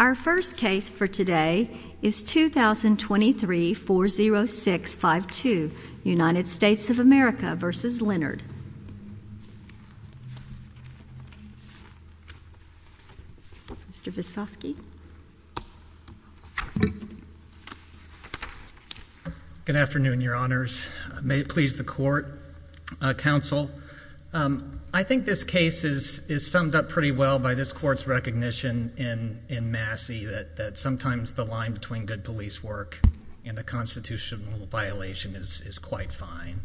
Our first case for today is 2023-40652, United States of America v. Leonard. Mr. Visosky. Good afternoon, Your Honors. May it please the Court, Counsel. I think this case is summed up pretty well by this Court's recognition in Massey that sometimes the line between good police work and a constitutional violation is quite fine.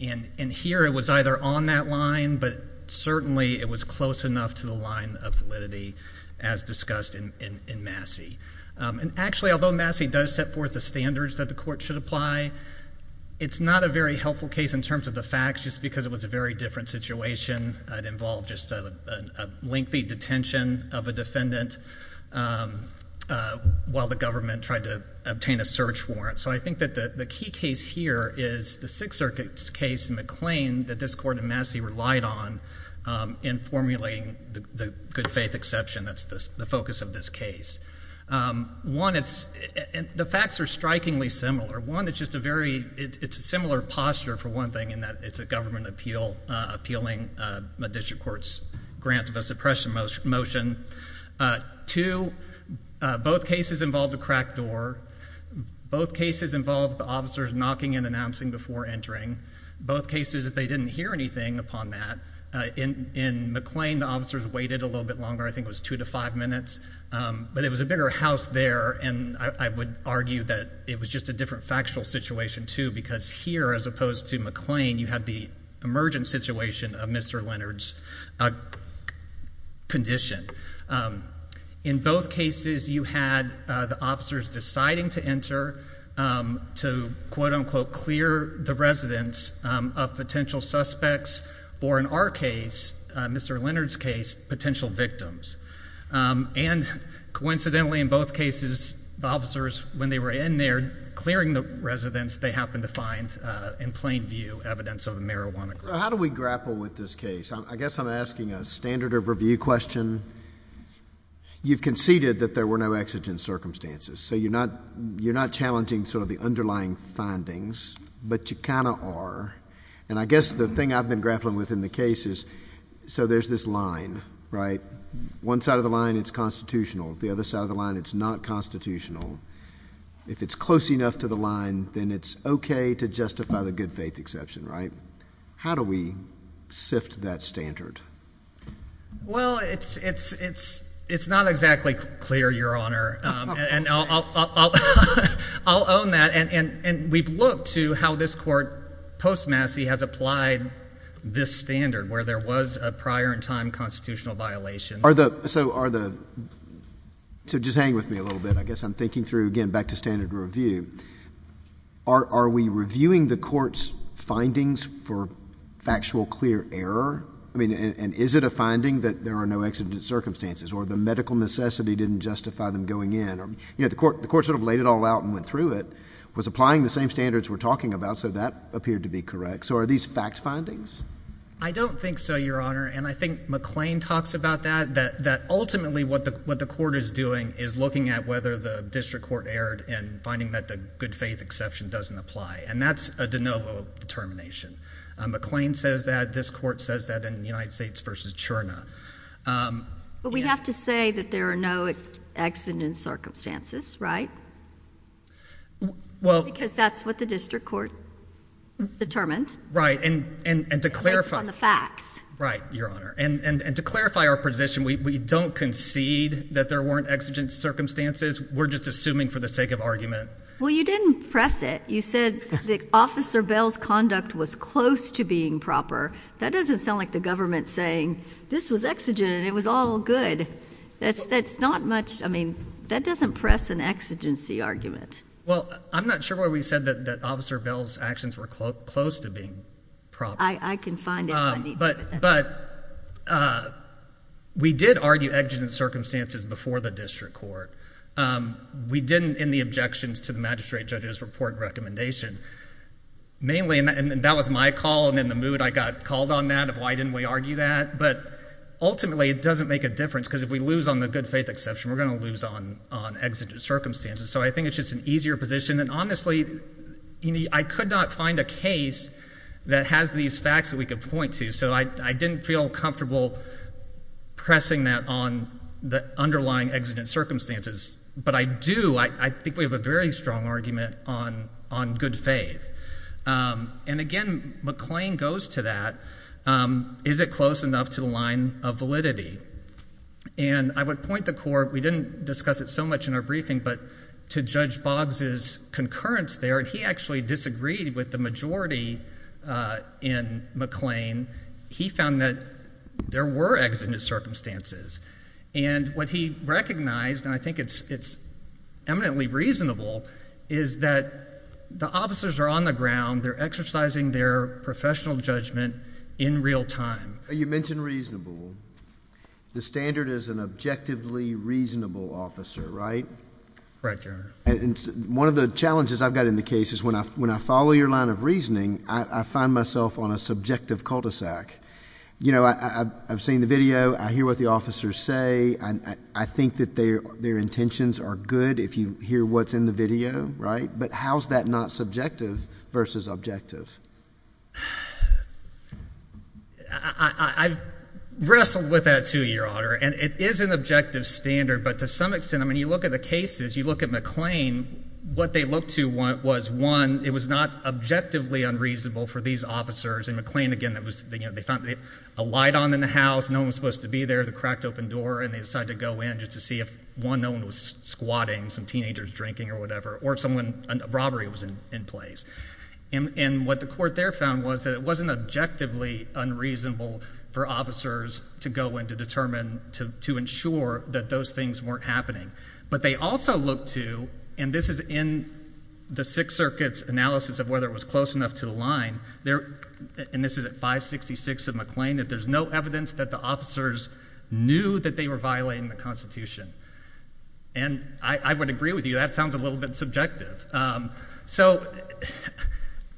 And here it was either on that line, but certainly it was close enough to the line of validity as discussed in Massey. And actually, although Massey does set forth the standards that the Court should apply, it's not a very helpful case in terms of the facts just because it was a very different situation. It involved just a lengthy detention of a defendant while the government tried to obtain a search warrant. So I think that the key case here is the Sixth Circuit's case and the claim that this Court and Massey relied on in formulating the good faith exception that's the focus of this case. One, it's – the facts are strikingly similar. One, it's just a very – it's a similar posture, for one thing, in that it's a government appeal – appealing a district court's grant of a suppression motion. Two, both cases involved a cracked door. Both cases involved the officers knocking and announcing before entering. Both cases, they didn't hear anything upon that. In McLean, the officers waited a little bit longer. I think it was two to five minutes. But it was a bigger house there, and I would argue that it was just a different factual situation, too, because here, as opposed to McLean, you had the emergent situation of Mr. Leonard's condition. In both cases, you had the officers deciding to enter to, quote-unquote, clear the residents of potential suspects or, in our case, Mr. Leonard's case, potential victims. And coincidentally, in both cases, the officers, when they were in there clearing the residents, they happened to find, in plain view, evidence of a marijuana group. So how do we grapple with this case? I guess I'm asking a standard of review question. You've conceded that there were no exigent circumstances, so you're not challenging sort of the underlying findings, but you kind of are. And I guess the thing I've been grappling with in the case is – so there's this line, right? One side of the line, it's constitutional. The other side of the line, it's not constitutional. If it's close enough to the line, then it's okay to justify the good faith exception, right? How do we sift that standard? Well, it's not exactly clear, Your Honor, and I'll own that. And we've looked to how this court post-Massie has applied this standard where there was a prior-in-time constitutional violation. So are the – so just hang with me a little bit. I guess I'm thinking through, again, back to standard review. Are we reviewing the court's findings for factual, clear error? I mean, and is it a finding that there are no exigent circumstances or the medical necessity didn't justify them going in? You know, the court sort of laid it all out and went through it. Was applying the same standards we're talking about, so that appeared to be correct. So are these fact findings? I don't think so, Your Honor, and I think McLean talks about that, that ultimately what the court is doing is looking at whether the district court erred and finding that the good faith exception doesn't apply. And that's a de novo determination. McLean says that. This court says that in United States v. Cherna. But we have to say that there are no exigent circumstances, right? Well – Because that's what the district court determined. Right, and to clarify – Based on the facts. Right, Your Honor. And to clarify our position, we don't concede that there weren't exigent circumstances. We're just assuming for the sake of argument. Well, you didn't press it. You said that Officer Bell's conduct was close to being proper. That doesn't sound like the government saying, this was exigent and it was all good. That's not much, I mean, that doesn't press an exigency argument. Well, I'm not sure why we said that Officer Bell's actions were close to being proper. I can find it. But we did argue exigent circumstances before the district court. We didn't in the objections to the magistrate judge's report recommendation. Mainly, and that was my call, and in the mood I got called on that of why didn't we argue that. But ultimately, it doesn't make a difference because if we lose on the good faith exception, we're going to lose on exigent circumstances. So I think it's just an easier position. And honestly, I could not find a case that has these facts that we could point to. So I didn't feel comfortable pressing that on the underlying exigent circumstances. But I do, I think we have a very strong argument on good faith. And again, McLean goes to that. Is it close enough to the line of validity? And I would point the court, we didn't discuss it so much in our briefing, but to Judge Boggs' concurrence there, he actually disagreed with the majority in McLean. He found that there were exigent circumstances. And what he recognized, and I think it's eminently reasonable, is that the officers are on the ground. They're exercising their professional judgment in real time. You mentioned reasonable. The standard is an objectively reasonable officer, right? Right, Your Honor. And one of the challenges I've got in the case is when I follow your line of reasoning, I find myself on a subjective cul-de-sac. You know, I've seen the video. I hear what the officers say. I think that their intentions are good if you hear what's in the video, right? But how is that not subjective versus objective? I've wrestled with that too, Your Honor. And it is an objective standard. But to some extent, I mean, you look at the cases, you look at McLean, what they look to was, one, it was not objectively unreasonable for these officers. In McLean, again, they found a light on in the house, no one was supposed to be there, the cracked open door, and they decided to go in just to see if, one, no one was squatting, some teenagers drinking or whatever, or if a robbery was in place. And what the court there found was that it wasn't objectively unreasonable for officers to go in to determine, to ensure that those things weren't happening. But they also looked to, and this is in the Sixth Circuit's analysis of whether it was close enough to the line, and this is at 566 of McLean, that there's no evidence that the officers knew that they were violating the Constitution. And I would agree with you, that sounds a little bit subjective.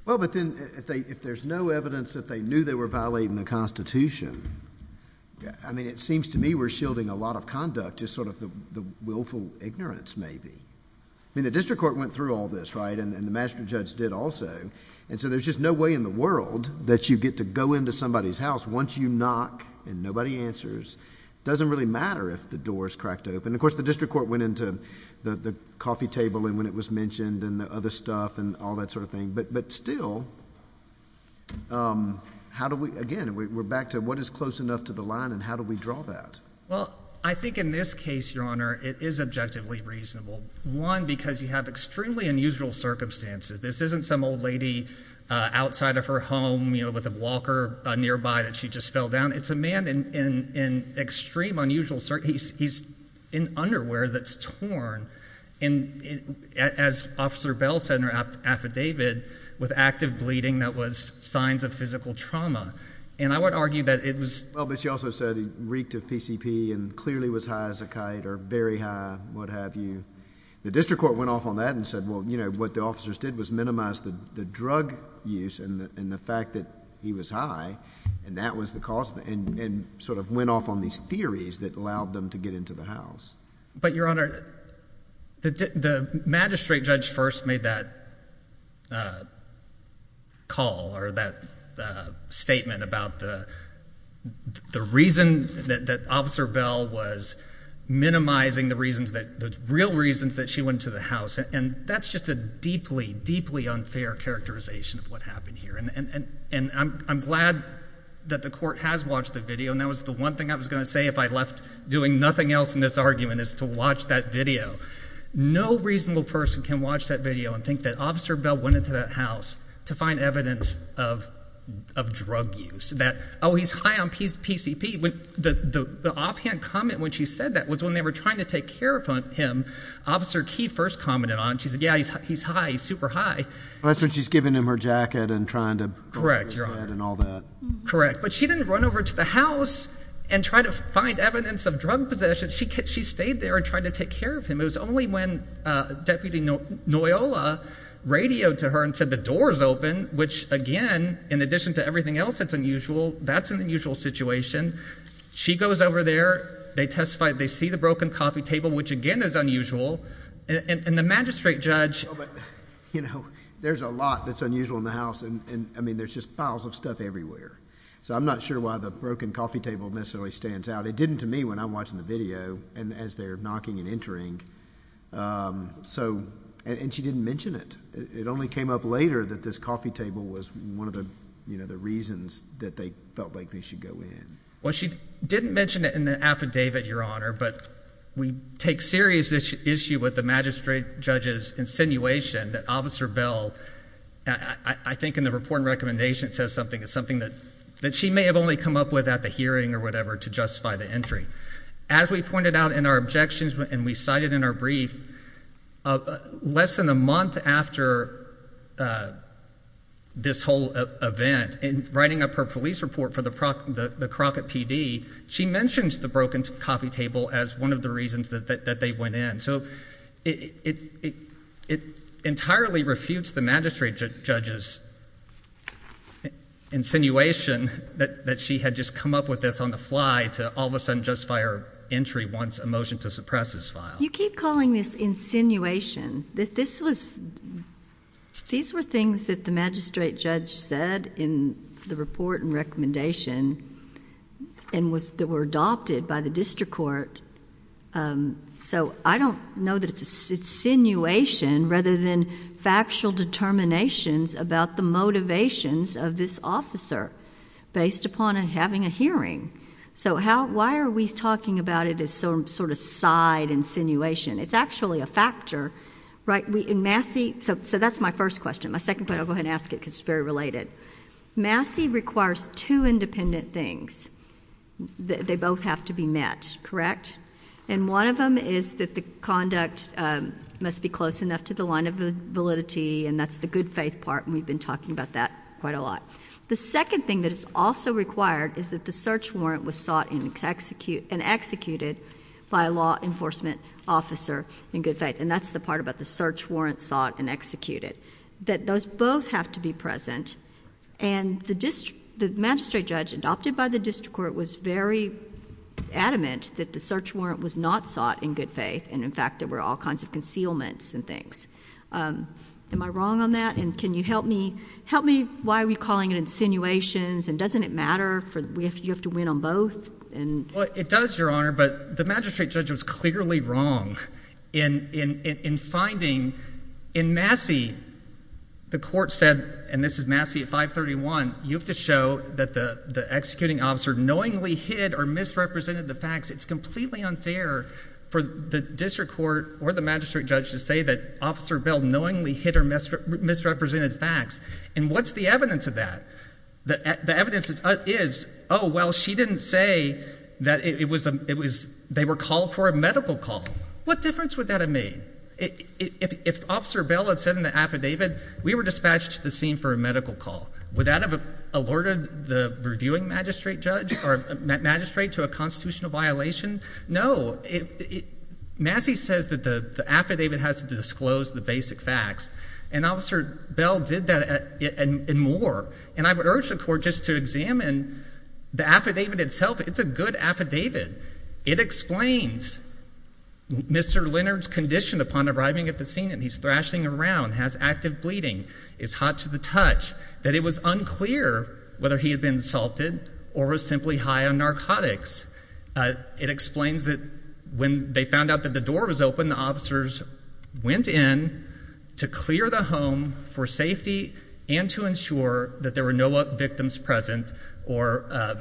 Well, but then, if there's no evidence that they knew they were violating the Constitution, I mean, it seems to me we're shielding a lot of conduct just sort of the willful ignorance, maybe. I mean, the district court went through all this, right, and the master judge did also, and so there's just no way in the world that you get to go into somebody's house once you knock and nobody answers. It doesn't really matter if the door is cracked open. Of course, the district court went into the coffee table and when it was mentioned and the other stuff and all that sort of thing. But still, how do we, again, we're back to what is close enough to the line and how do we draw that? Well, I think in this case, Your Honor, it is objectively reasonable. One, because you have extremely unusual circumstances. This isn't some old lady outside of her home with a walker nearby that she just fell down. It's a man in extreme unusual circumstances. He's in underwear that's torn, as Officer Bell said in her affidavit, with active bleeding that was signs of physical trauma. And I would argue that it was— Well, but she also said he reeked of PCP and clearly was high as a kite or very high, what have you. The district court went off on that and said, well, what the officers did was minimize the drug use and the fact that he was high and that was the cause. And sort of went off on these theories that allowed them to get into the house. But, Your Honor, the magistrate judge first made that call or that statement about the reason that Officer Bell was minimizing the reasons that—the real reasons that she went to the house. And that's just a deeply, deeply unfair characterization of what happened here. And I'm glad that the court has watched the video, and that was the one thing I was going to say if I left doing nothing else in this argument is to watch that video. No reasonable person can watch that video and think that Officer Bell went into that house to find evidence of drug use, that, oh, he's high on PCP. The offhand comment when she said that was when they were trying to take care of him. Officer Key first commented on it. She said, yeah, he's high. He's super high. That's when she's giving him her jacket and trying to— Correct, Your Honor. And all that. Correct, but she didn't run over to the house and try to find evidence of drug possession. She stayed there and tried to take care of him. It was only when Deputy Noyola radioed to her and said the door is open, which again, in addition to everything else that's unusual, that's an unusual situation. She goes over there. They testify. They see the broken coffee table, which again is unusual, and the magistrate judge— There's a lot that's unusual in the house. I mean, there's just piles of stuff everywhere. So I'm not sure why the broken coffee table necessarily stands out. It didn't to me when I'm watching the video and as they're knocking and entering. And she didn't mention it. It only came up later that this coffee table was one of the reasons that they felt like they should go in. Well, she didn't mention it in the affidavit, Your Honor, but we take serious issue with the magistrate judge's insinuation that Officer Bell, I think in the report and recommendation, says something. It's something that she may have only come up with at the hearing or whatever to justify the entry. As we pointed out in our objections and we cited in our brief, less than a month after this whole event, in writing up her police report for the Crockett PD, she mentions the broken coffee table as one of the reasons that they went in. So it entirely refutes the magistrate judge's insinuation that she had just come up with this on the fly to all of a sudden justify her entry once a motion to suppress is filed. You keep calling this insinuation. These were things that the magistrate judge said in the report and recommendation and were adopted by the district court. So I don't know that it's insinuation rather than factual determinations about the motivations of this officer based upon having a hearing. So why are we talking about it as some sort of side insinuation? It's actually a factor. So that's my first question. My second point, I'll go ahead and ask it because it's very related. Massey requires two independent things. They both have to be met, correct? And one of them is that the conduct must be close enough to the line of validity, and that's the good faith part, and we've been talking about that quite a lot. The second thing that is also required is that the search warrant was sought and executed by a law enforcement officer in good faith, and that's the part about the search warrant sought and executed, that those both have to be present. And the magistrate judge adopted by the district court was very adamant that the search warrant was not sought in good faith, and, in fact, there were all kinds of concealments and things. Am I wrong on that? And can you help me? Help me. Why are we calling it insinuations, and doesn't it matter? You have to win on both? Well, it does, Your Honor, but the magistrate judge was clearly wrong in finding in Massey the court said, and this is Massey at 531, you have to show that the executing officer knowingly hid or misrepresented the facts. It's completely unfair for the district court or the magistrate judge to say that Officer Bell knowingly hid or misrepresented facts, and what's the evidence of that? The evidence is, oh, well, she didn't say that it was they were called for a medical call. What difference would that have made? If Officer Bell had said in the affidavit, we were dispatched to the scene for a medical call, would that have alerted the reviewing magistrate judge or magistrate to a constitutional violation? No. Massey says that the affidavit has to disclose the basic facts, and Officer Bell did that and more, and I would urge the court just to examine the affidavit itself. It's a good affidavit. It explains Mr. Leonard's condition upon arriving at the scene, and he's thrashing around, has active bleeding, is hot to the touch, that it was unclear whether he had been assaulted or was simply high on narcotics. It explains that when they found out that the door was open, the officers went in to clear the home for safety and to ensure that there were no victims present or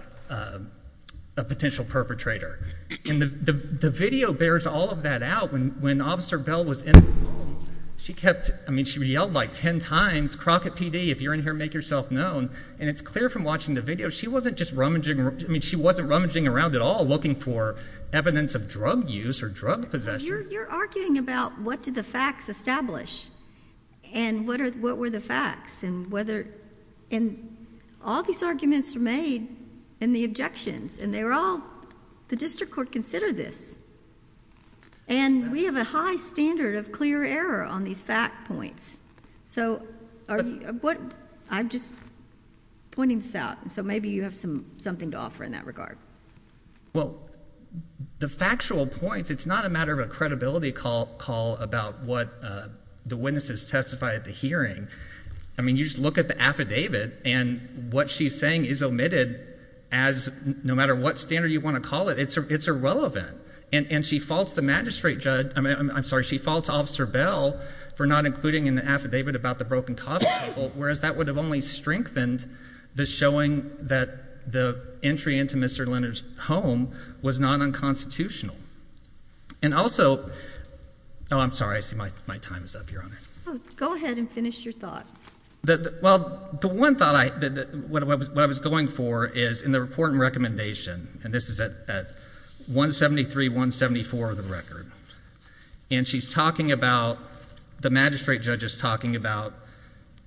a potential perpetrator. And the video bears all of that out. When Officer Bell was in the home, she kept, I mean, she yelled like 10 times, crock at PD if you're in here, make yourself known. And it's clear from watching the video, she wasn't just rummaging, I mean, she wasn't rummaging around at all looking for evidence of drug use or drug possession. You're arguing about what did the facts establish, and what were the facts, and whether, and all these arguments were made in the objections, and they were all, the district court considered this. And we have a high standard of clear error on these fact points. So, I'm just pointing this out, so maybe you have something to offer in that regard. Well, the factual points, it's not a matter of a credibility call about what the witnesses testified at the hearing. I mean, you just look at the affidavit, and what she's saying is omitted as no matter what standard you want to call it, it's irrelevant. And she faults the magistrate judge, I'm sorry, she faults Officer Bell for not including in the affidavit about the broken coffee table, whereas that would have only strengthened the showing that the entry into Mr. Leonard's home was non-unconstitutional. And also, oh, I'm sorry, I see my time is up, Your Honor. Go ahead and finish your thought. Well, the one thought I, what I was going for is in the report and recommendation, and this is at 173-174 of the record. And she's talking about, the magistrate judge is talking about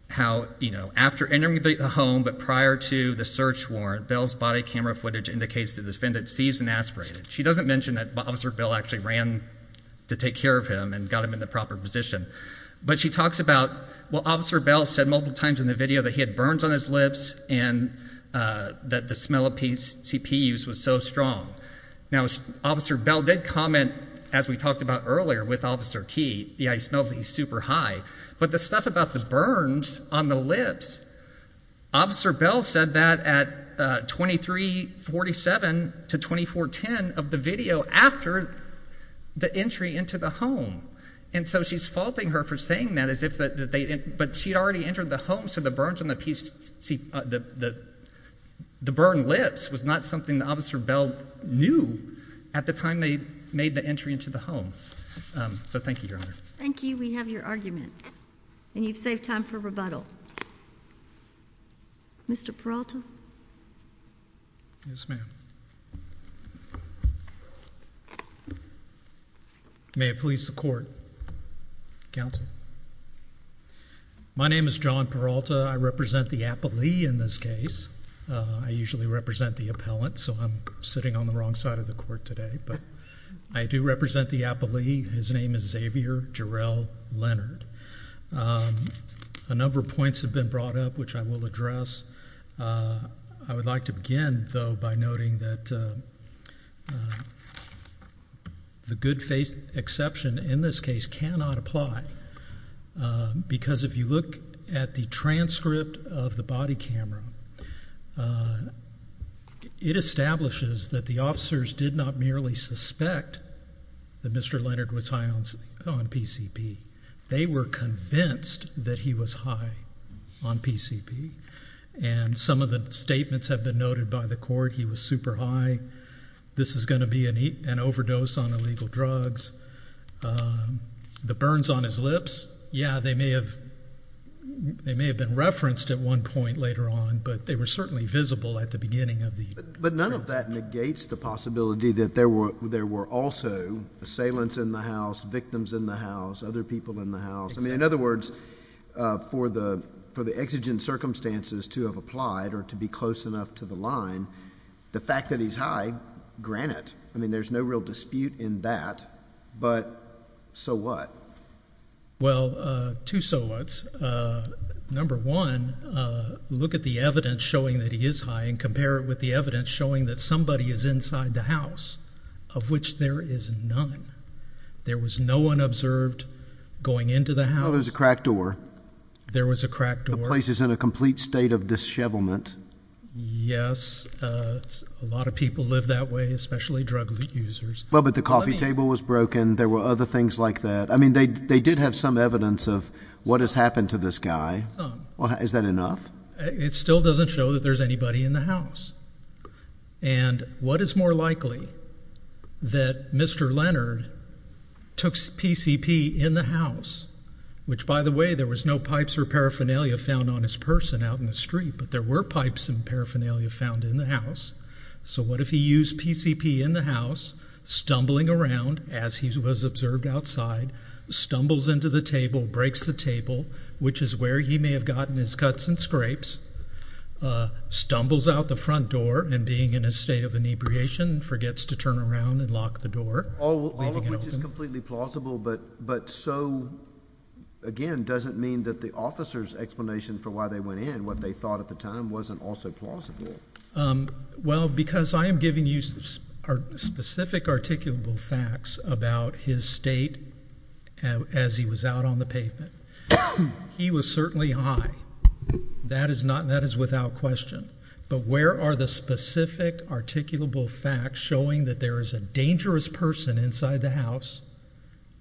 how, you know, after entering the home, but prior to the search warrant, Bell's body camera footage indicates the defendant seized and aspirated. She doesn't mention that Officer Bell actually ran to take care of him and got him in the proper position. But she talks about, well, Officer Bell said multiple times in the video that he had burns on his lips and that the smell of CPUs was so strong. Now, Officer Bell did comment, as we talked about earlier with Officer Key, yeah, he smells like he's super high. But the stuff about the burns on the lips, Officer Bell said that at 2347 to 2410 of the video after the entry into the home. And so she's faulting her for saying that as if they, but she had already entered the home, so the burns on the PC, the burn lips was not something Officer Bell knew at the time they made the entry into the home. So thank you, Your Honor. Thank you. We have your argument. And you've saved time for rebuttal. Mr. Peralta? Yes, ma'am. May it please the court. Counsel. My name is John Peralta. I represent the appellee in this case. I usually represent the appellant, so I'm sitting on the wrong side of the court today. But I do represent the appellee. His name is Xavier Jarrell Leonard. A number of points have been brought up, which I will address. I would like to begin, though, by noting that the good faith exception in this case cannot apply. Because if you look at the transcript of the body camera, it establishes that the officers did not merely suspect that Mr. Leonard was high on PCP. They were convinced that he was high on PCP. And some of the statements have been noted by the court. He was super high. This is going to be an overdose on illegal drugs. The burns on his lips, yeah, they may have been referenced at one point later on, but they were certainly visible at the beginning of the transcript. But none of that negates the possibility that there were also assailants in the house, victims in the house, other people in the house. I mean, in other words, for the exigent circumstances to have applied or to be close enough to the line, the fact that he's high, grant it. I mean, there's no real dispute in that, but so what? Well, two so what's. Number one, look at the evidence showing that he is high and compare it with the evidence showing that somebody is inside the house, of which there is none. There was no one observed going into the house. There was a cracked door. There was a cracked door. The place is in a complete state of dishevelment. Yes, a lot of people live that way, especially drug users. Well, but the coffee table was broken. There were other things like that. I mean, they did have some evidence of what has happened to this guy. Is that enough? It still doesn't show that there's anybody in the house. And what is more likely that Mr. Leonard took PCP in the house, which, by the way, there was no pipes or paraphernalia found on his person out in the street, but there were pipes and paraphernalia found in the house. So what if he used PCP in the house, stumbling around, as he was observed outside, stumbles into the table, breaks the table, which is where he may have gotten his cuts and scrapes, stumbles out the front door, and being in a state of inebriation, forgets to turn around and lock the door. All of which is completely plausible, but so, again, doesn't mean that the officer's explanation for why they went in, what they thought at the time, wasn't also plausible. Well, because I am giving you specific articulable facts about his state as he was out on the pavement. He was certainly high. That is without question. But where are the specific articulable facts showing that there is a dangerous person inside the house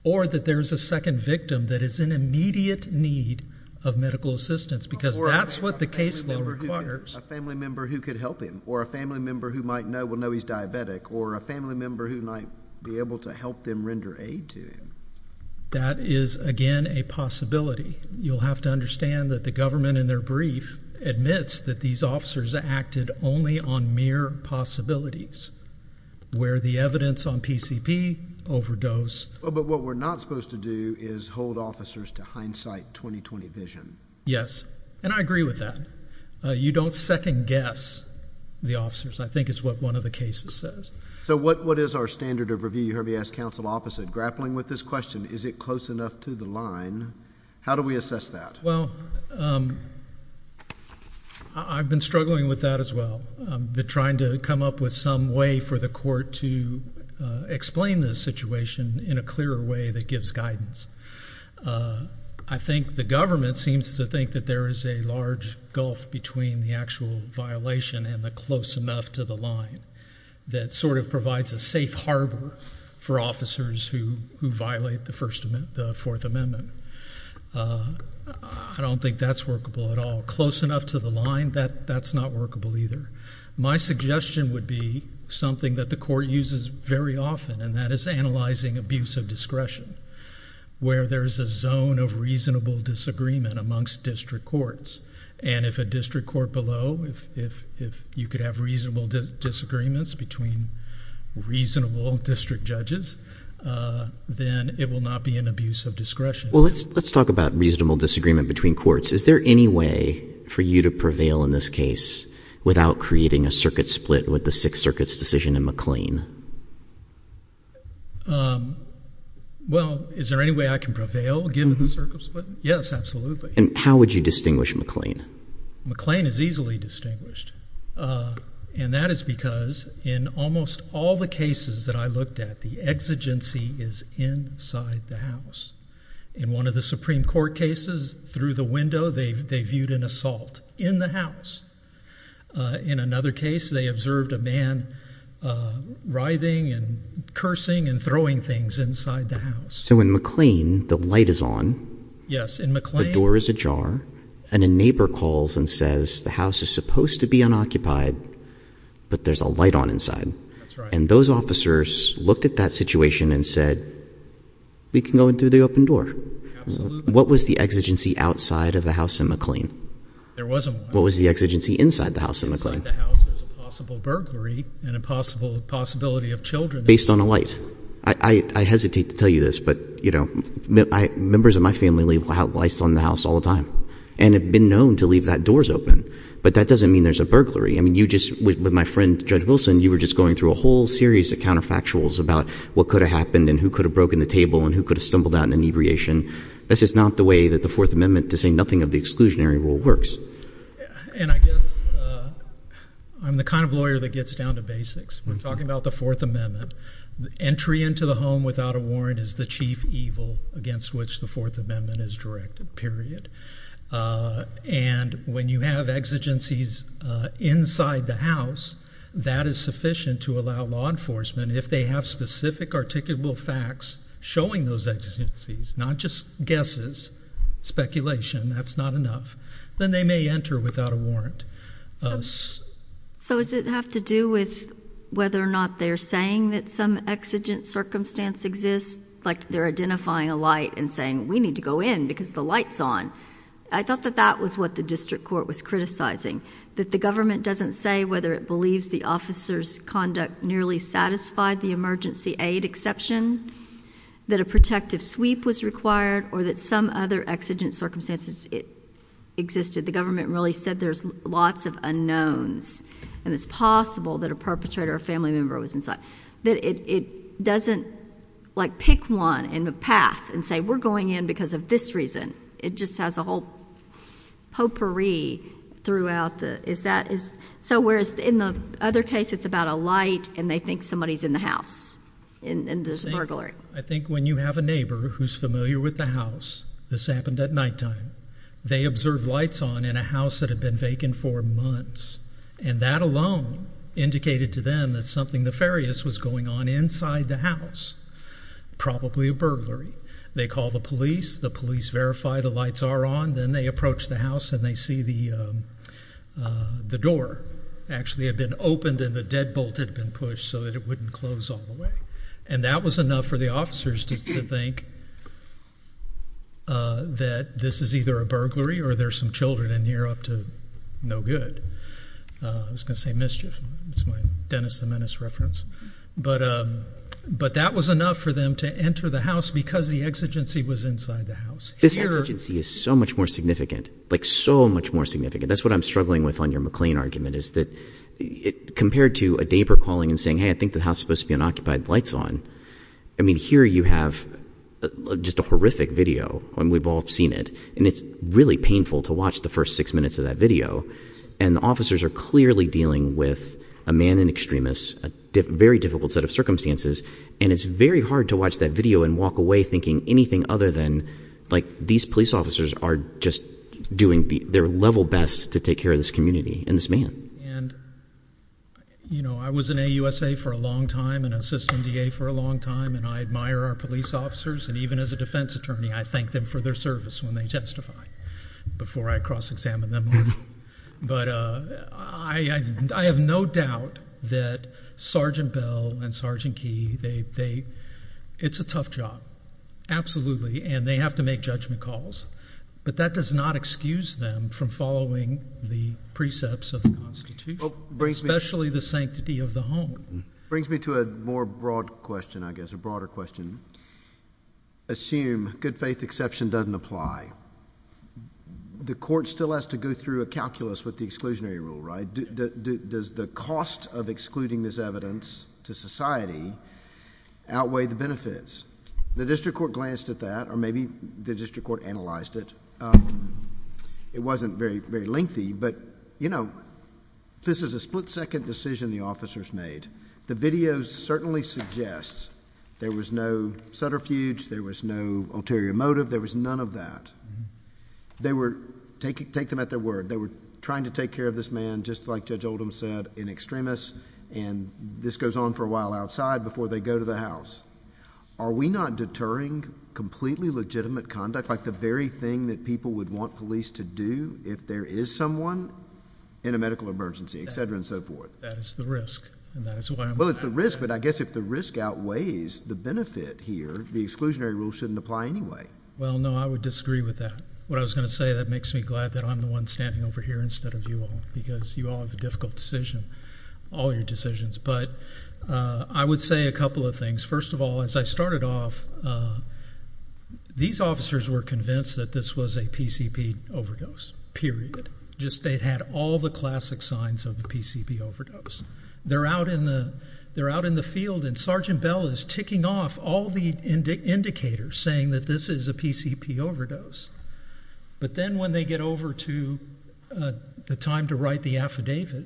or that there is a second victim that is in immediate need of medical assistance? Because that's what the case law requires. A family member who could help him, or a family member who might know he's diabetic, or a family member who might be able to help them render aid to him. That is, again, a possibility. You'll have to understand that the government in their brief admits that these officers acted only on mere possibilities, where the evidence on PCP, overdose. But what we're not supposed to do is hold officers to hindsight, 20-20 vision. Yes, and I agree with that. You don't second guess the officers, I think is what one of the cases says. So what is our standard of review? You heard me ask counsel opposite. Grappling with this question, is it close enough to the line? How do we assess that? Well, I've been struggling with that as well. I've been trying to come up with some way for the court to explain this situation in a clearer way that gives guidance. I think the government seems to think that there is a large gulf between the actual violation and the close enough to the line that sort of provides a safe harbor for officers who violate the Fourth Amendment. I don't think that's workable at all. Close enough to the line, that's not workable either. My suggestion would be something that the court uses very often, and that is analyzing abuse of discretion. Where there is a zone of reasonable disagreement amongst district courts. And if a district court below, if you could have reasonable disagreements between reasonable district judges, then it will not be an abuse of discretion. Well, let's talk about reasonable disagreement between courts. Is there any way for you to prevail in this case without creating a circuit split with the Sixth Circuit's decision in McLean? Well, is there any way I can prevail given the circuit split? Yes, absolutely. And how would you distinguish McLean? McLean is easily distinguished. And that is because in almost all the cases that I looked at, the exigency is inside the house. In one of the Supreme Court cases, through the window, they viewed an assault in the house. In another case, they observed a man writhing and cursing and throwing things inside the house. So in McLean, the light is on. The door is ajar. And a neighbor calls and says, the house is supposed to be unoccupied, but there's a light on inside. And those officers looked at that situation and said, we can go in through the open door. Absolutely. What was the exigency outside of the house in McLean? There wasn't one. What was the exigency inside the house in McLean? Inside the house, there's a possible burglary and a possibility of children. Based on a light. I hesitate to tell you this, but, you know, members of my family leave lights on the house all the time and have been known to leave that doors open. But that doesn't mean there's a burglary. I mean, you just, with my friend Judge Wilson, you were just going through a whole series of counterfactuals about what could have happened and who could have broken the table and who could have stumbled out in inebriation. That's just not the way that the Fourth Amendment, to say nothing of the exclusionary rule, works. And I guess I'm the kind of lawyer that gets down to basics. We're talking about the Fourth Amendment. Entry into the home without a warrant is the chief evil against which the Fourth Amendment is directed, period. And when you have exigencies inside the house, that is sufficient to allow law enforcement, if they have specific articulable facts showing those exigencies, not just guesses, speculation, that's not enough, then they may enter without a warrant. So does it have to do with whether or not they're saying that some exigent circumstance exists, like they're identifying a light and saying, we need to go in because the light's on? I thought that that was what the district court was criticizing, that the government doesn't say whether it believes the officer's conduct nearly satisfied the emergency aid exception, that a protective sweep was required, or that some other exigent circumstances existed. The government really said there's lots of unknowns, and it's possible that a perpetrator or a family member was inside. That it doesn't, like, pick one in the path and say, we're going in because of this reason. It just has a whole potpourri throughout. So whereas in the other case, it's about a light, and they think somebody's in the house, and there's a burglary. I think when you have a neighbor who's familiar with the house, this happened at nighttime, they observed lights on in a house that had been vacant for months, and that alone indicated to them that something nefarious was going on inside the house, probably a burglary. They call the police. The police verify the lights are on. Then they approach the house, and they see the door actually had been opened, and the deadbolt had been pushed so that it wouldn't close all the way. And that was enough for the officers to think that this is either a burglary or there's some children in here up to no good. I was going to say mischief. That's my Dennis the Menace reference. But that was enough for them to enter the house because the exigency was inside the house. This exigency is so much more significant, like so much more significant. That's what I'm struggling with on your McLean argument is that compared to a neighbor calling and saying, hey, I think the house is supposed to be unoccupied with lights on. I mean here you have just a horrific video, and we've all seen it, and it's really painful to watch the first six minutes of that video, and the officers are clearly dealing with a man, an extremist, a very difficult set of circumstances, and it's very hard to watch that video and walk away thinking anything other than like these police officers are just doing their level best to take care of this community and this man. And I was in AUSA for a long time and assistant DA for a long time, and I admire our police officers, and even as a defense attorney I thank them for their service when they testify before I cross-examine them on me. But I have no doubt that Sergeant Bell and Sergeant Key, it's a tough job, absolutely, and they have to make judgment calls, but that does not excuse them from following the precepts of the Constitution, especially the sanctity of the home. It brings me to a more broad question, I guess, a broader question. Assume good faith exception doesn't apply. The court still has to go through a calculus with the exclusionary rule, right? Does the cost of excluding this evidence to society outweigh the benefits? The district court glanced at that, or maybe the district court analyzed it. It wasn't very lengthy, but this is a split-second decision the officers made. The video certainly suggests there was no subterfuge, there was no ulterior motive, there was none of that. Take them at their word. They were trying to take care of this man, just like Judge Oldham said, an extremist, and this goes on for a while outside before they go to the house. Are we not deterring completely legitimate conduct, like the very thing that people would want police to do if there is someone in a medical emergency, etc., and so forth? That is the risk, and that is why I'm asking. Well, it's the risk, but I guess if the risk outweighs the benefit here, the exclusionary rule shouldn't apply anyway. Well, no, I would disagree with that. What I was going to say, that makes me glad that I'm the one standing over here instead of you all, because you all have a difficult decision, all your decisions. But I would say a couple of things. First of all, as I started off, these officers were convinced that this was a PCP overdose, period. They had all the classic signs of a PCP overdose. They're out in the field, and Sergeant Bell is ticking off all the indicators saying that this is a PCP overdose. But then when they get over to the time to write the affidavit,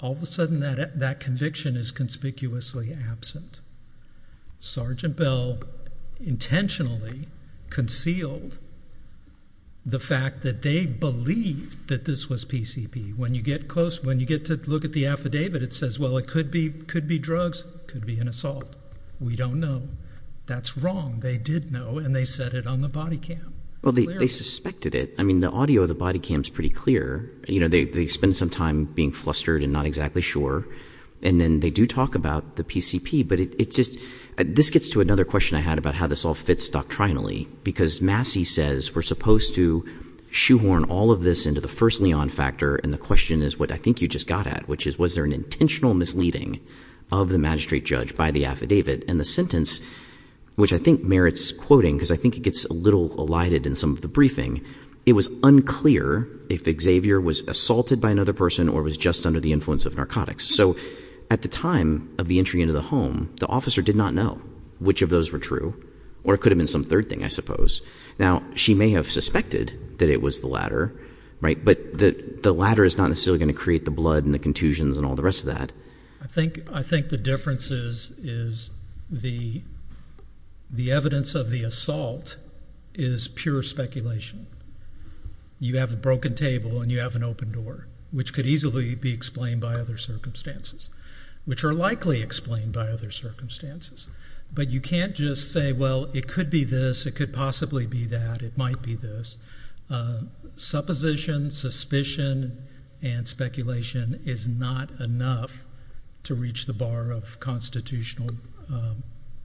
all of a sudden that conviction is conspicuously absent. Sergeant Bell intentionally concealed the fact that they believed that this was PCP. When you get close, when you get to look at the affidavit, it says, well, it could be drugs, could be an assault. We don't know. That's wrong. They did know, and they said it on the body cam. Well, they suspected it. I mean, the audio of the body cam is pretty clear. You know, they spend some time being flustered and not exactly sure, and then they do talk about the PCP. But it's just – this gets to another question I had about how this all fits doctrinally, because Massey says we're supposed to shoehorn all of this into the first Leon factor, and the question is what I think you just got at, which is was there an intentional misleading of the magistrate judge by the affidavit? And the sentence, which I think merits quoting because I think it gets a little elided in some of the briefing, it was unclear if Xavier was assaulted by another person or was just under the influence of narcotics. So at the time of the entry into the home, the officer did not know which of those were true, or it could have been some third thing, I suppose. Now, she may have suspected that it was the latter, right, but the latter is not necessarily going to create the blood and the contusions and all the rest of that. I think the difference is the evidence of the assault is pure speculation. You have a broken table and you have an open door, which could easily be explained by other circumstances, which are likely explained by other circumstances. But you can't just say, well, it could be this, it could possibly be that, it might be this. Supposition, suspicion, and speculation is not enough to reach the bar of constitutional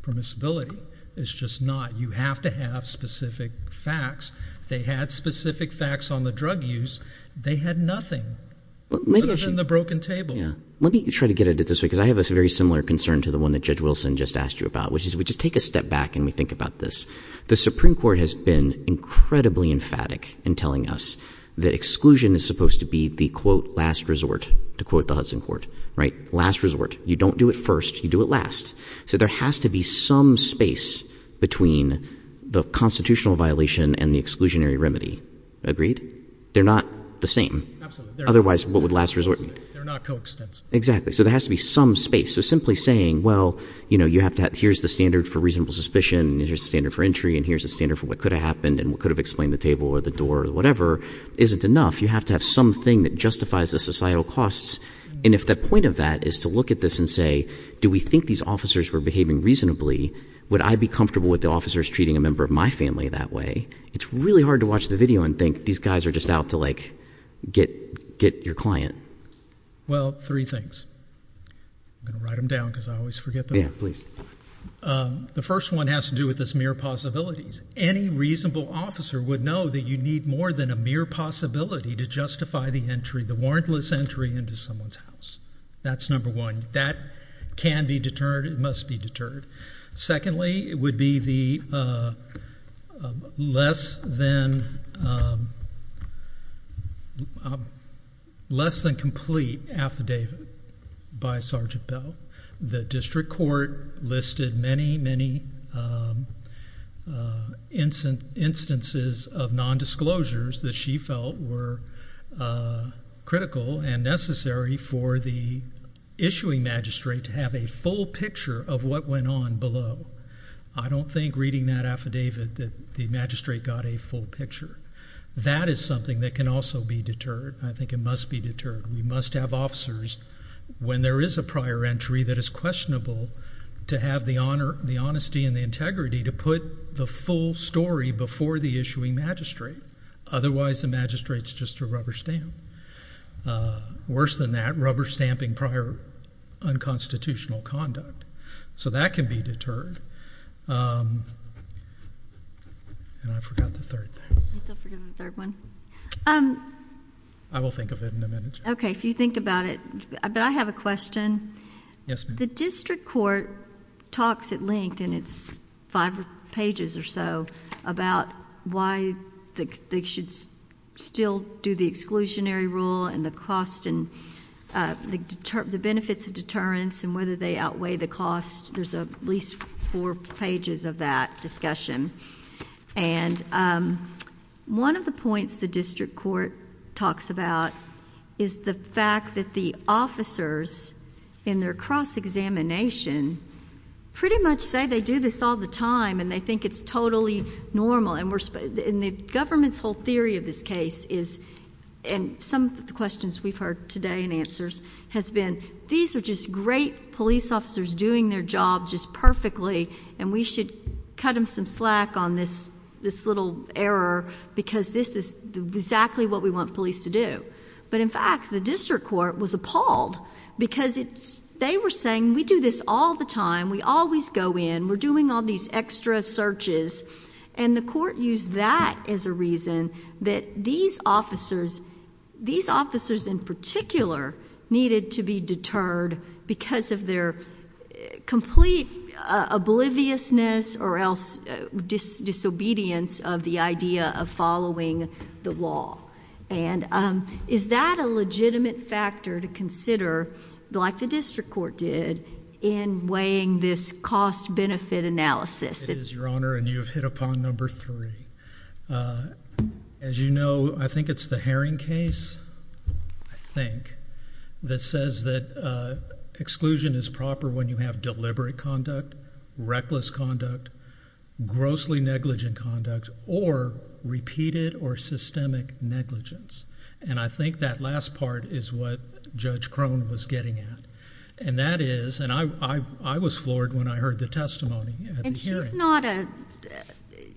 permissibility. It's just not. You have to have specific facts. They had specific facts on the drug use. They had nothing other than the broken table. Let me try to get at it this way because I have a very similar concern to the one that Judge Wilson just asked you about, which is we just take a step back and we think about this. The Supreme Court has been incredibly emphatic in telling us that exclusion is supposed to be the, quote, last resort, to quote the Hudson Court, right? Last resort. You don't do it first. You do it last. So there has to be some space between the constitutional violation and the exclusionary remedy. Agreed? They're not the same. Absolutely. Otherwise, what would last resort mean? They're not coextensive. Exactly. So there has to be some space. So simply saying, well, here's the standard for reasonable suspicion, here's the standard for entry, and here's the standard for what could have happened and what could have explained the table or the door or whatever isn't enough. You have to have something that justifies the societal costs. And if the point of that is to look at this and say, do we think these officers were behaving reasonably? Would I be comfortable with the officers treating a member of my family that way? It's really hard to watch the video and think these guys are just out to, like, get your client. Well, three things. I'm going to write them down because I always forget them. Yeah, please. The first one has to do with this mere possibilities. Any reasonable officer would know that you need more than a mere possibility to justify the entry, the warrantless entry, into someone's house. That's number one. That can be deterred. It must be deterred. Secondly, it would be the less than complete affidavit by Sergeant Bell. The district court listed many, many instances of nondisclosures that she felt were critical and necessary for the issuing magistrate to have a full picture of what went on below. I don't think reading that affidavit that the magistrate got a full picture. That is something that can also be deterred. I think it must be deterred. We must have officers, when there is a prior entry that is questionable, to have the honesty and the integrity to put the full story before the issuing magistrate. Otherwise, the magistrate's just a rubber stamp. Worse than that, rubber stamping prior unconstitutional conduct. So that can be deterred. And I forgot the third thing. I still forget the third one. I will think of it in a minute. OK. If you think about it. But I have a question. Yes, ma'am. The district court talks at length, and it's five pages or so, about why they should still do the exclusionary rule and the benefits of deterrence and whether they outweigh the cost. There's at least four pages of that discussion. And one of the points the district court talks about is the fact that the officers, in their cross-examination, pretty much say they do this all the time and they think it's totally normal. And the government's whole theory of this case is, and some of the questions we've heard today in answers, has been, these are just great police officers doing their job just perfectly, and we should cut them some slack on this little error because this is exactly what we want police to do. But in fact, the district court was appalled because they were saying, we do this all the time. We always go in. We're doing all these extra searches. And the court used that as a reason that these officers, these officers in particular, needed to be deterred because of their complete obliviousness or else disobedience of the idea of following the law. And is that a legitimate factor to consider, like the district court did, in weighing this cost-benefit analysis? It is, Your Honor, and you have hit upon number three. As you know, I think it's the Herring case, I think, that says that exclusion is proper when you have deliberate conduct, reckless conduct, grossly negligent conduct, or repeated or systemic negligence. And I think that last part is what Judge Crone was getting at. And that is, and I was floored when I heard the testimony at the hearing. And she's not a,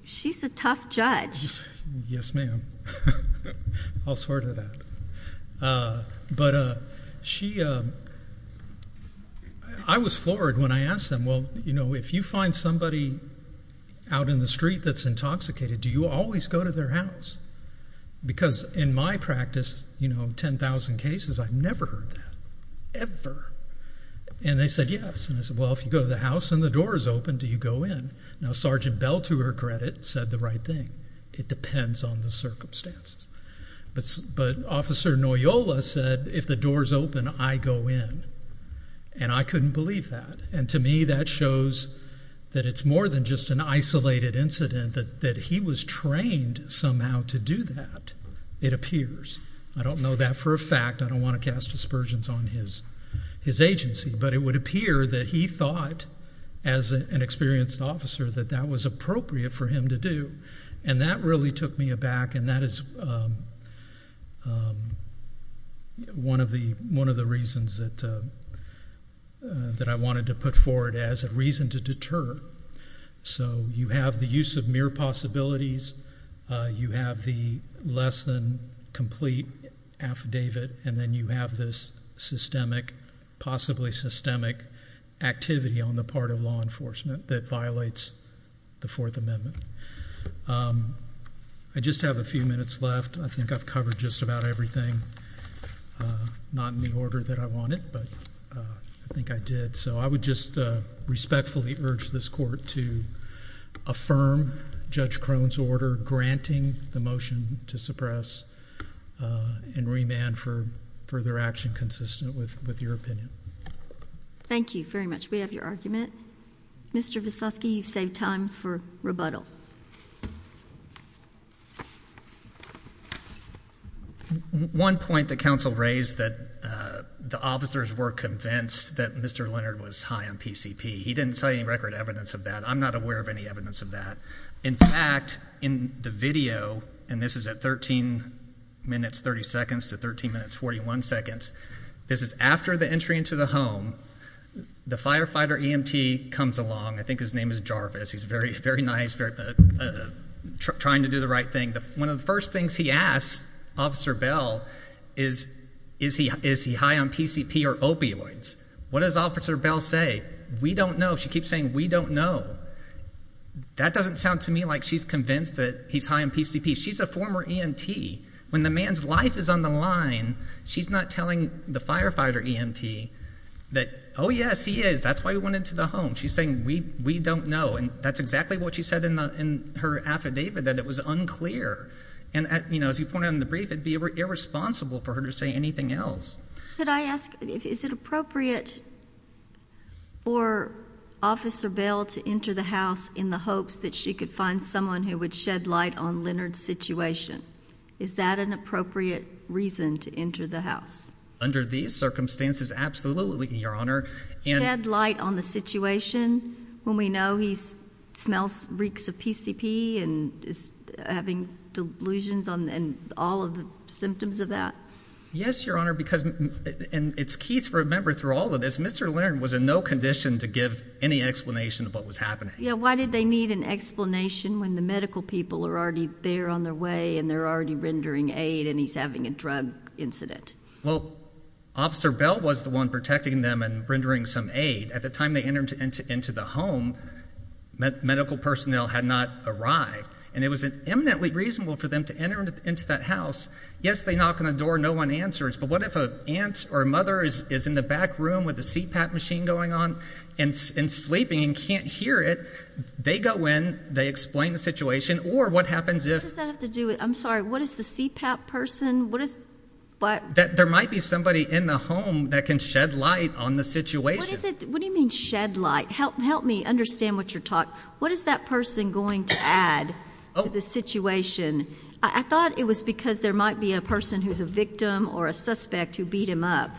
she's a tough judge. Yes, ma'am. I'll swear to that. But she, I was floored when I asked them, well, you know, if you find somebody out in the street that's intoxicated, do you always go to their house? Because in my practice, you know, 10,000 cases, I've never heard that, ever. And they said, yes. And I said, well, if you go to the house and the door is open, do you go in? Now, Sergeant Bell, to her credit, said the right thing. It depends on the circumstances. But Officer Noyola said, if the door is open, I go in. And I couldn't believe that. And to me that shows that it's more than just an isolated incident, that he was trained somehow to do that, it appears. I don't know that for a fact. I don't want to cast aspersions on his agency. But it would appear that he thought, as an experienced officer, that that was appropriate for him to do. And that really took me aback. And that is one of the reasons that I wanted to put forward as a reason to deter. So you have the use of mere possibilities. You have the less than complete affidavit. And then you have this systemic, possibly systemic, activity on the part of law enforcement that violates the Fourth Amendment. I just have a few minutes left. I think I've covered just about everything. Not in the order that I wanted, but I think I did. So I would just respectfully urge this court to affirm Judge Crone's order granting the motion to suppress and remand for further action consistent with your opinion. Thank you very much. We have your argument. Mr. Veselsky, you've saved time for rebuttal. One point that counsel raised that the officers were convinced that Mr. Leonard was high on PCP. He didn't cite any record evidence of that. I'm not aware of any evidence of that. In fact, in the video, and this is at 13 minutes 30 seconds to 13 minutes 41 seconds, this is after the entry into the home. The firefighter EMT comes along. I think his name is Jarvis. He's very nice, trying to do the right thing. One of the first things he asks Officer Bell is, is he high on PCP or opioids? What does Officer Bell say? We don't know. She keeps saying, we don't know. That doesn't sound to me like she's convinced that he's high on PCP. She's a former EMT. When the man's life is on the line, she's not telling the firefighter EMT that, oh, yes, he is. That's why he went into the home. She's saying, we don't know. And that's exactly what she said in her affidavit, that it was unclear. And, you know, as you pointed out in the brief, it would be irresponsible for her to say anything else. Could I ask, is it appropriate for Officer Bell to enter the house in the hopes that she could find someone who would shed light on Leonard's situation? Is that an appropriate reason to enter the house? Under these circumstances, absolutely, Your Honor. Shed light on the situation when we know he smells, reeks of PCP and is having delusions and all of the symptoms of that? Yes, Your Honor, because it's key to remember through all of this, Mr. Leonard was in no condition to give any explanation of what was happening. Yeah, why did they need an explanation when the medical people are already there on their way and they're already rendering aid and he's having a drug incident? Well, Officer Bell was the one protecting them and rendering some aid. At the time they entered into the home, medical personnel had not arrived, and it was eminently reasonable for them to enter into that house. Yes, they knock on the door and no one answers, but what if an aunt or a mother is in the back room with a CPAP machine going on and sleeping and can't hear it, they go in, they explain the situation, or what happens if What does that have to do with it? I'm sorry, what is the CPAP person? There might be somebody in the home that can shed light on the situation. What do you mean shed light? Help me understand what you're talking about. What is that person going to add to the situation? I thought it was because there might be a person who's a victim or a suspect who beat him up,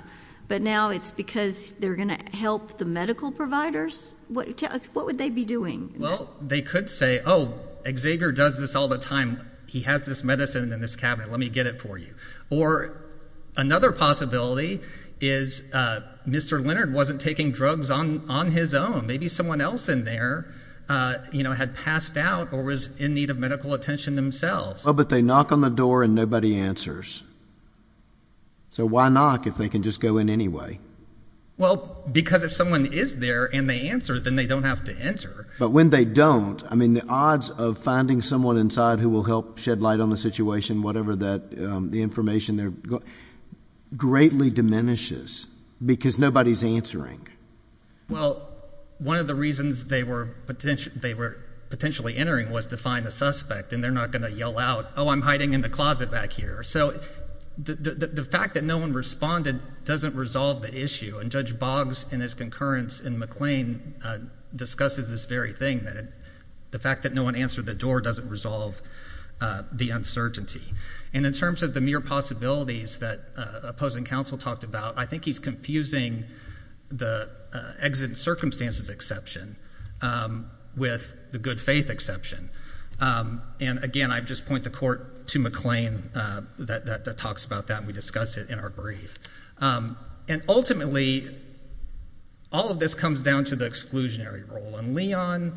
but now it's because they're going to help the medical providers? What would they be doing? Well, they could say, oh, Xavier does this all the time. He has this medicine in this cabinet. Let me get it for you. Or another possibility is Mr. Leonard wasn't taking drugs on his own. Maybe someone else in there had passed out or was in need of medical attention themselves. But they knock on the door and nobody answers. So why knock if they can just go in anyway? Well, because if someone is there and they answer, then they don't have to enter. But when they don't, I mean the odds of finding someone inside who will help shed light on the situation, whatever the information there, greatly diminishes because nobody's answering. Well, one of the reasons they were potentially entering was to find a suspect, and they're not going to yell out, oh, I'm hiding in the closet back here. So the fact that no one responded doesn't resolve the issue, and Judge Boggs in his concurrence in McLean discusses this very thing, that the fact that no one answered the door doesn't resolve the uncertainty. And in terms of the mere possibilities that opposing counsel talked about, I think he's confusing the exit circumstances exception with the good faith exception. And again, I just point the court to McLean that talks about that, and we discuss it in our brief. And ultimately, all of this comes down to the exclusionary rule. And Leon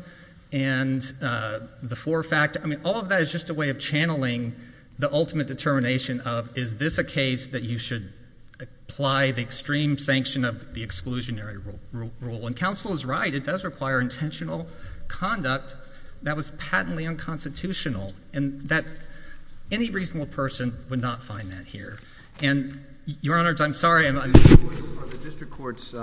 and the four-factor, I mean all of that is just a way of channeling the ultimate determination of, is this a case that you should apply the extreme sanction of the exclusionary rule? And counsel is right. It does require intentional conduct that was patently unconstitutional, and that any reasonable person would not find that here. And, Your Honor, I'm sorry. Are the district court's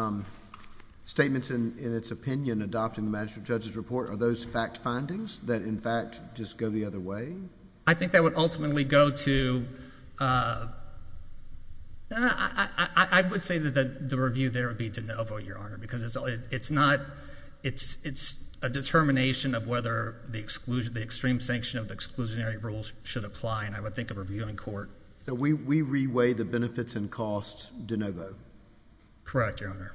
statements in its opinion adopting the magistrate judge's report, are those fact findings that, in fact, just go the other way? I think that would ultimately go to – I would say that the review there would be de novo, Your Honor, because it's a determination of whether the extreme sanction of the exclusionary rules should apply, and I would think of reviewing court. So we reweigh the benefits and costs de novo? Correct, Your Honor.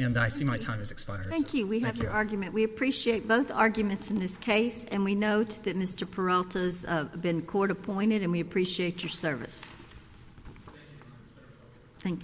And I see my time has expired. Thank you. We have your argument. We appreciate both arguments in this case, and we note that Mr. Peralta has been court appointed, and we appreciate your service. Thank you.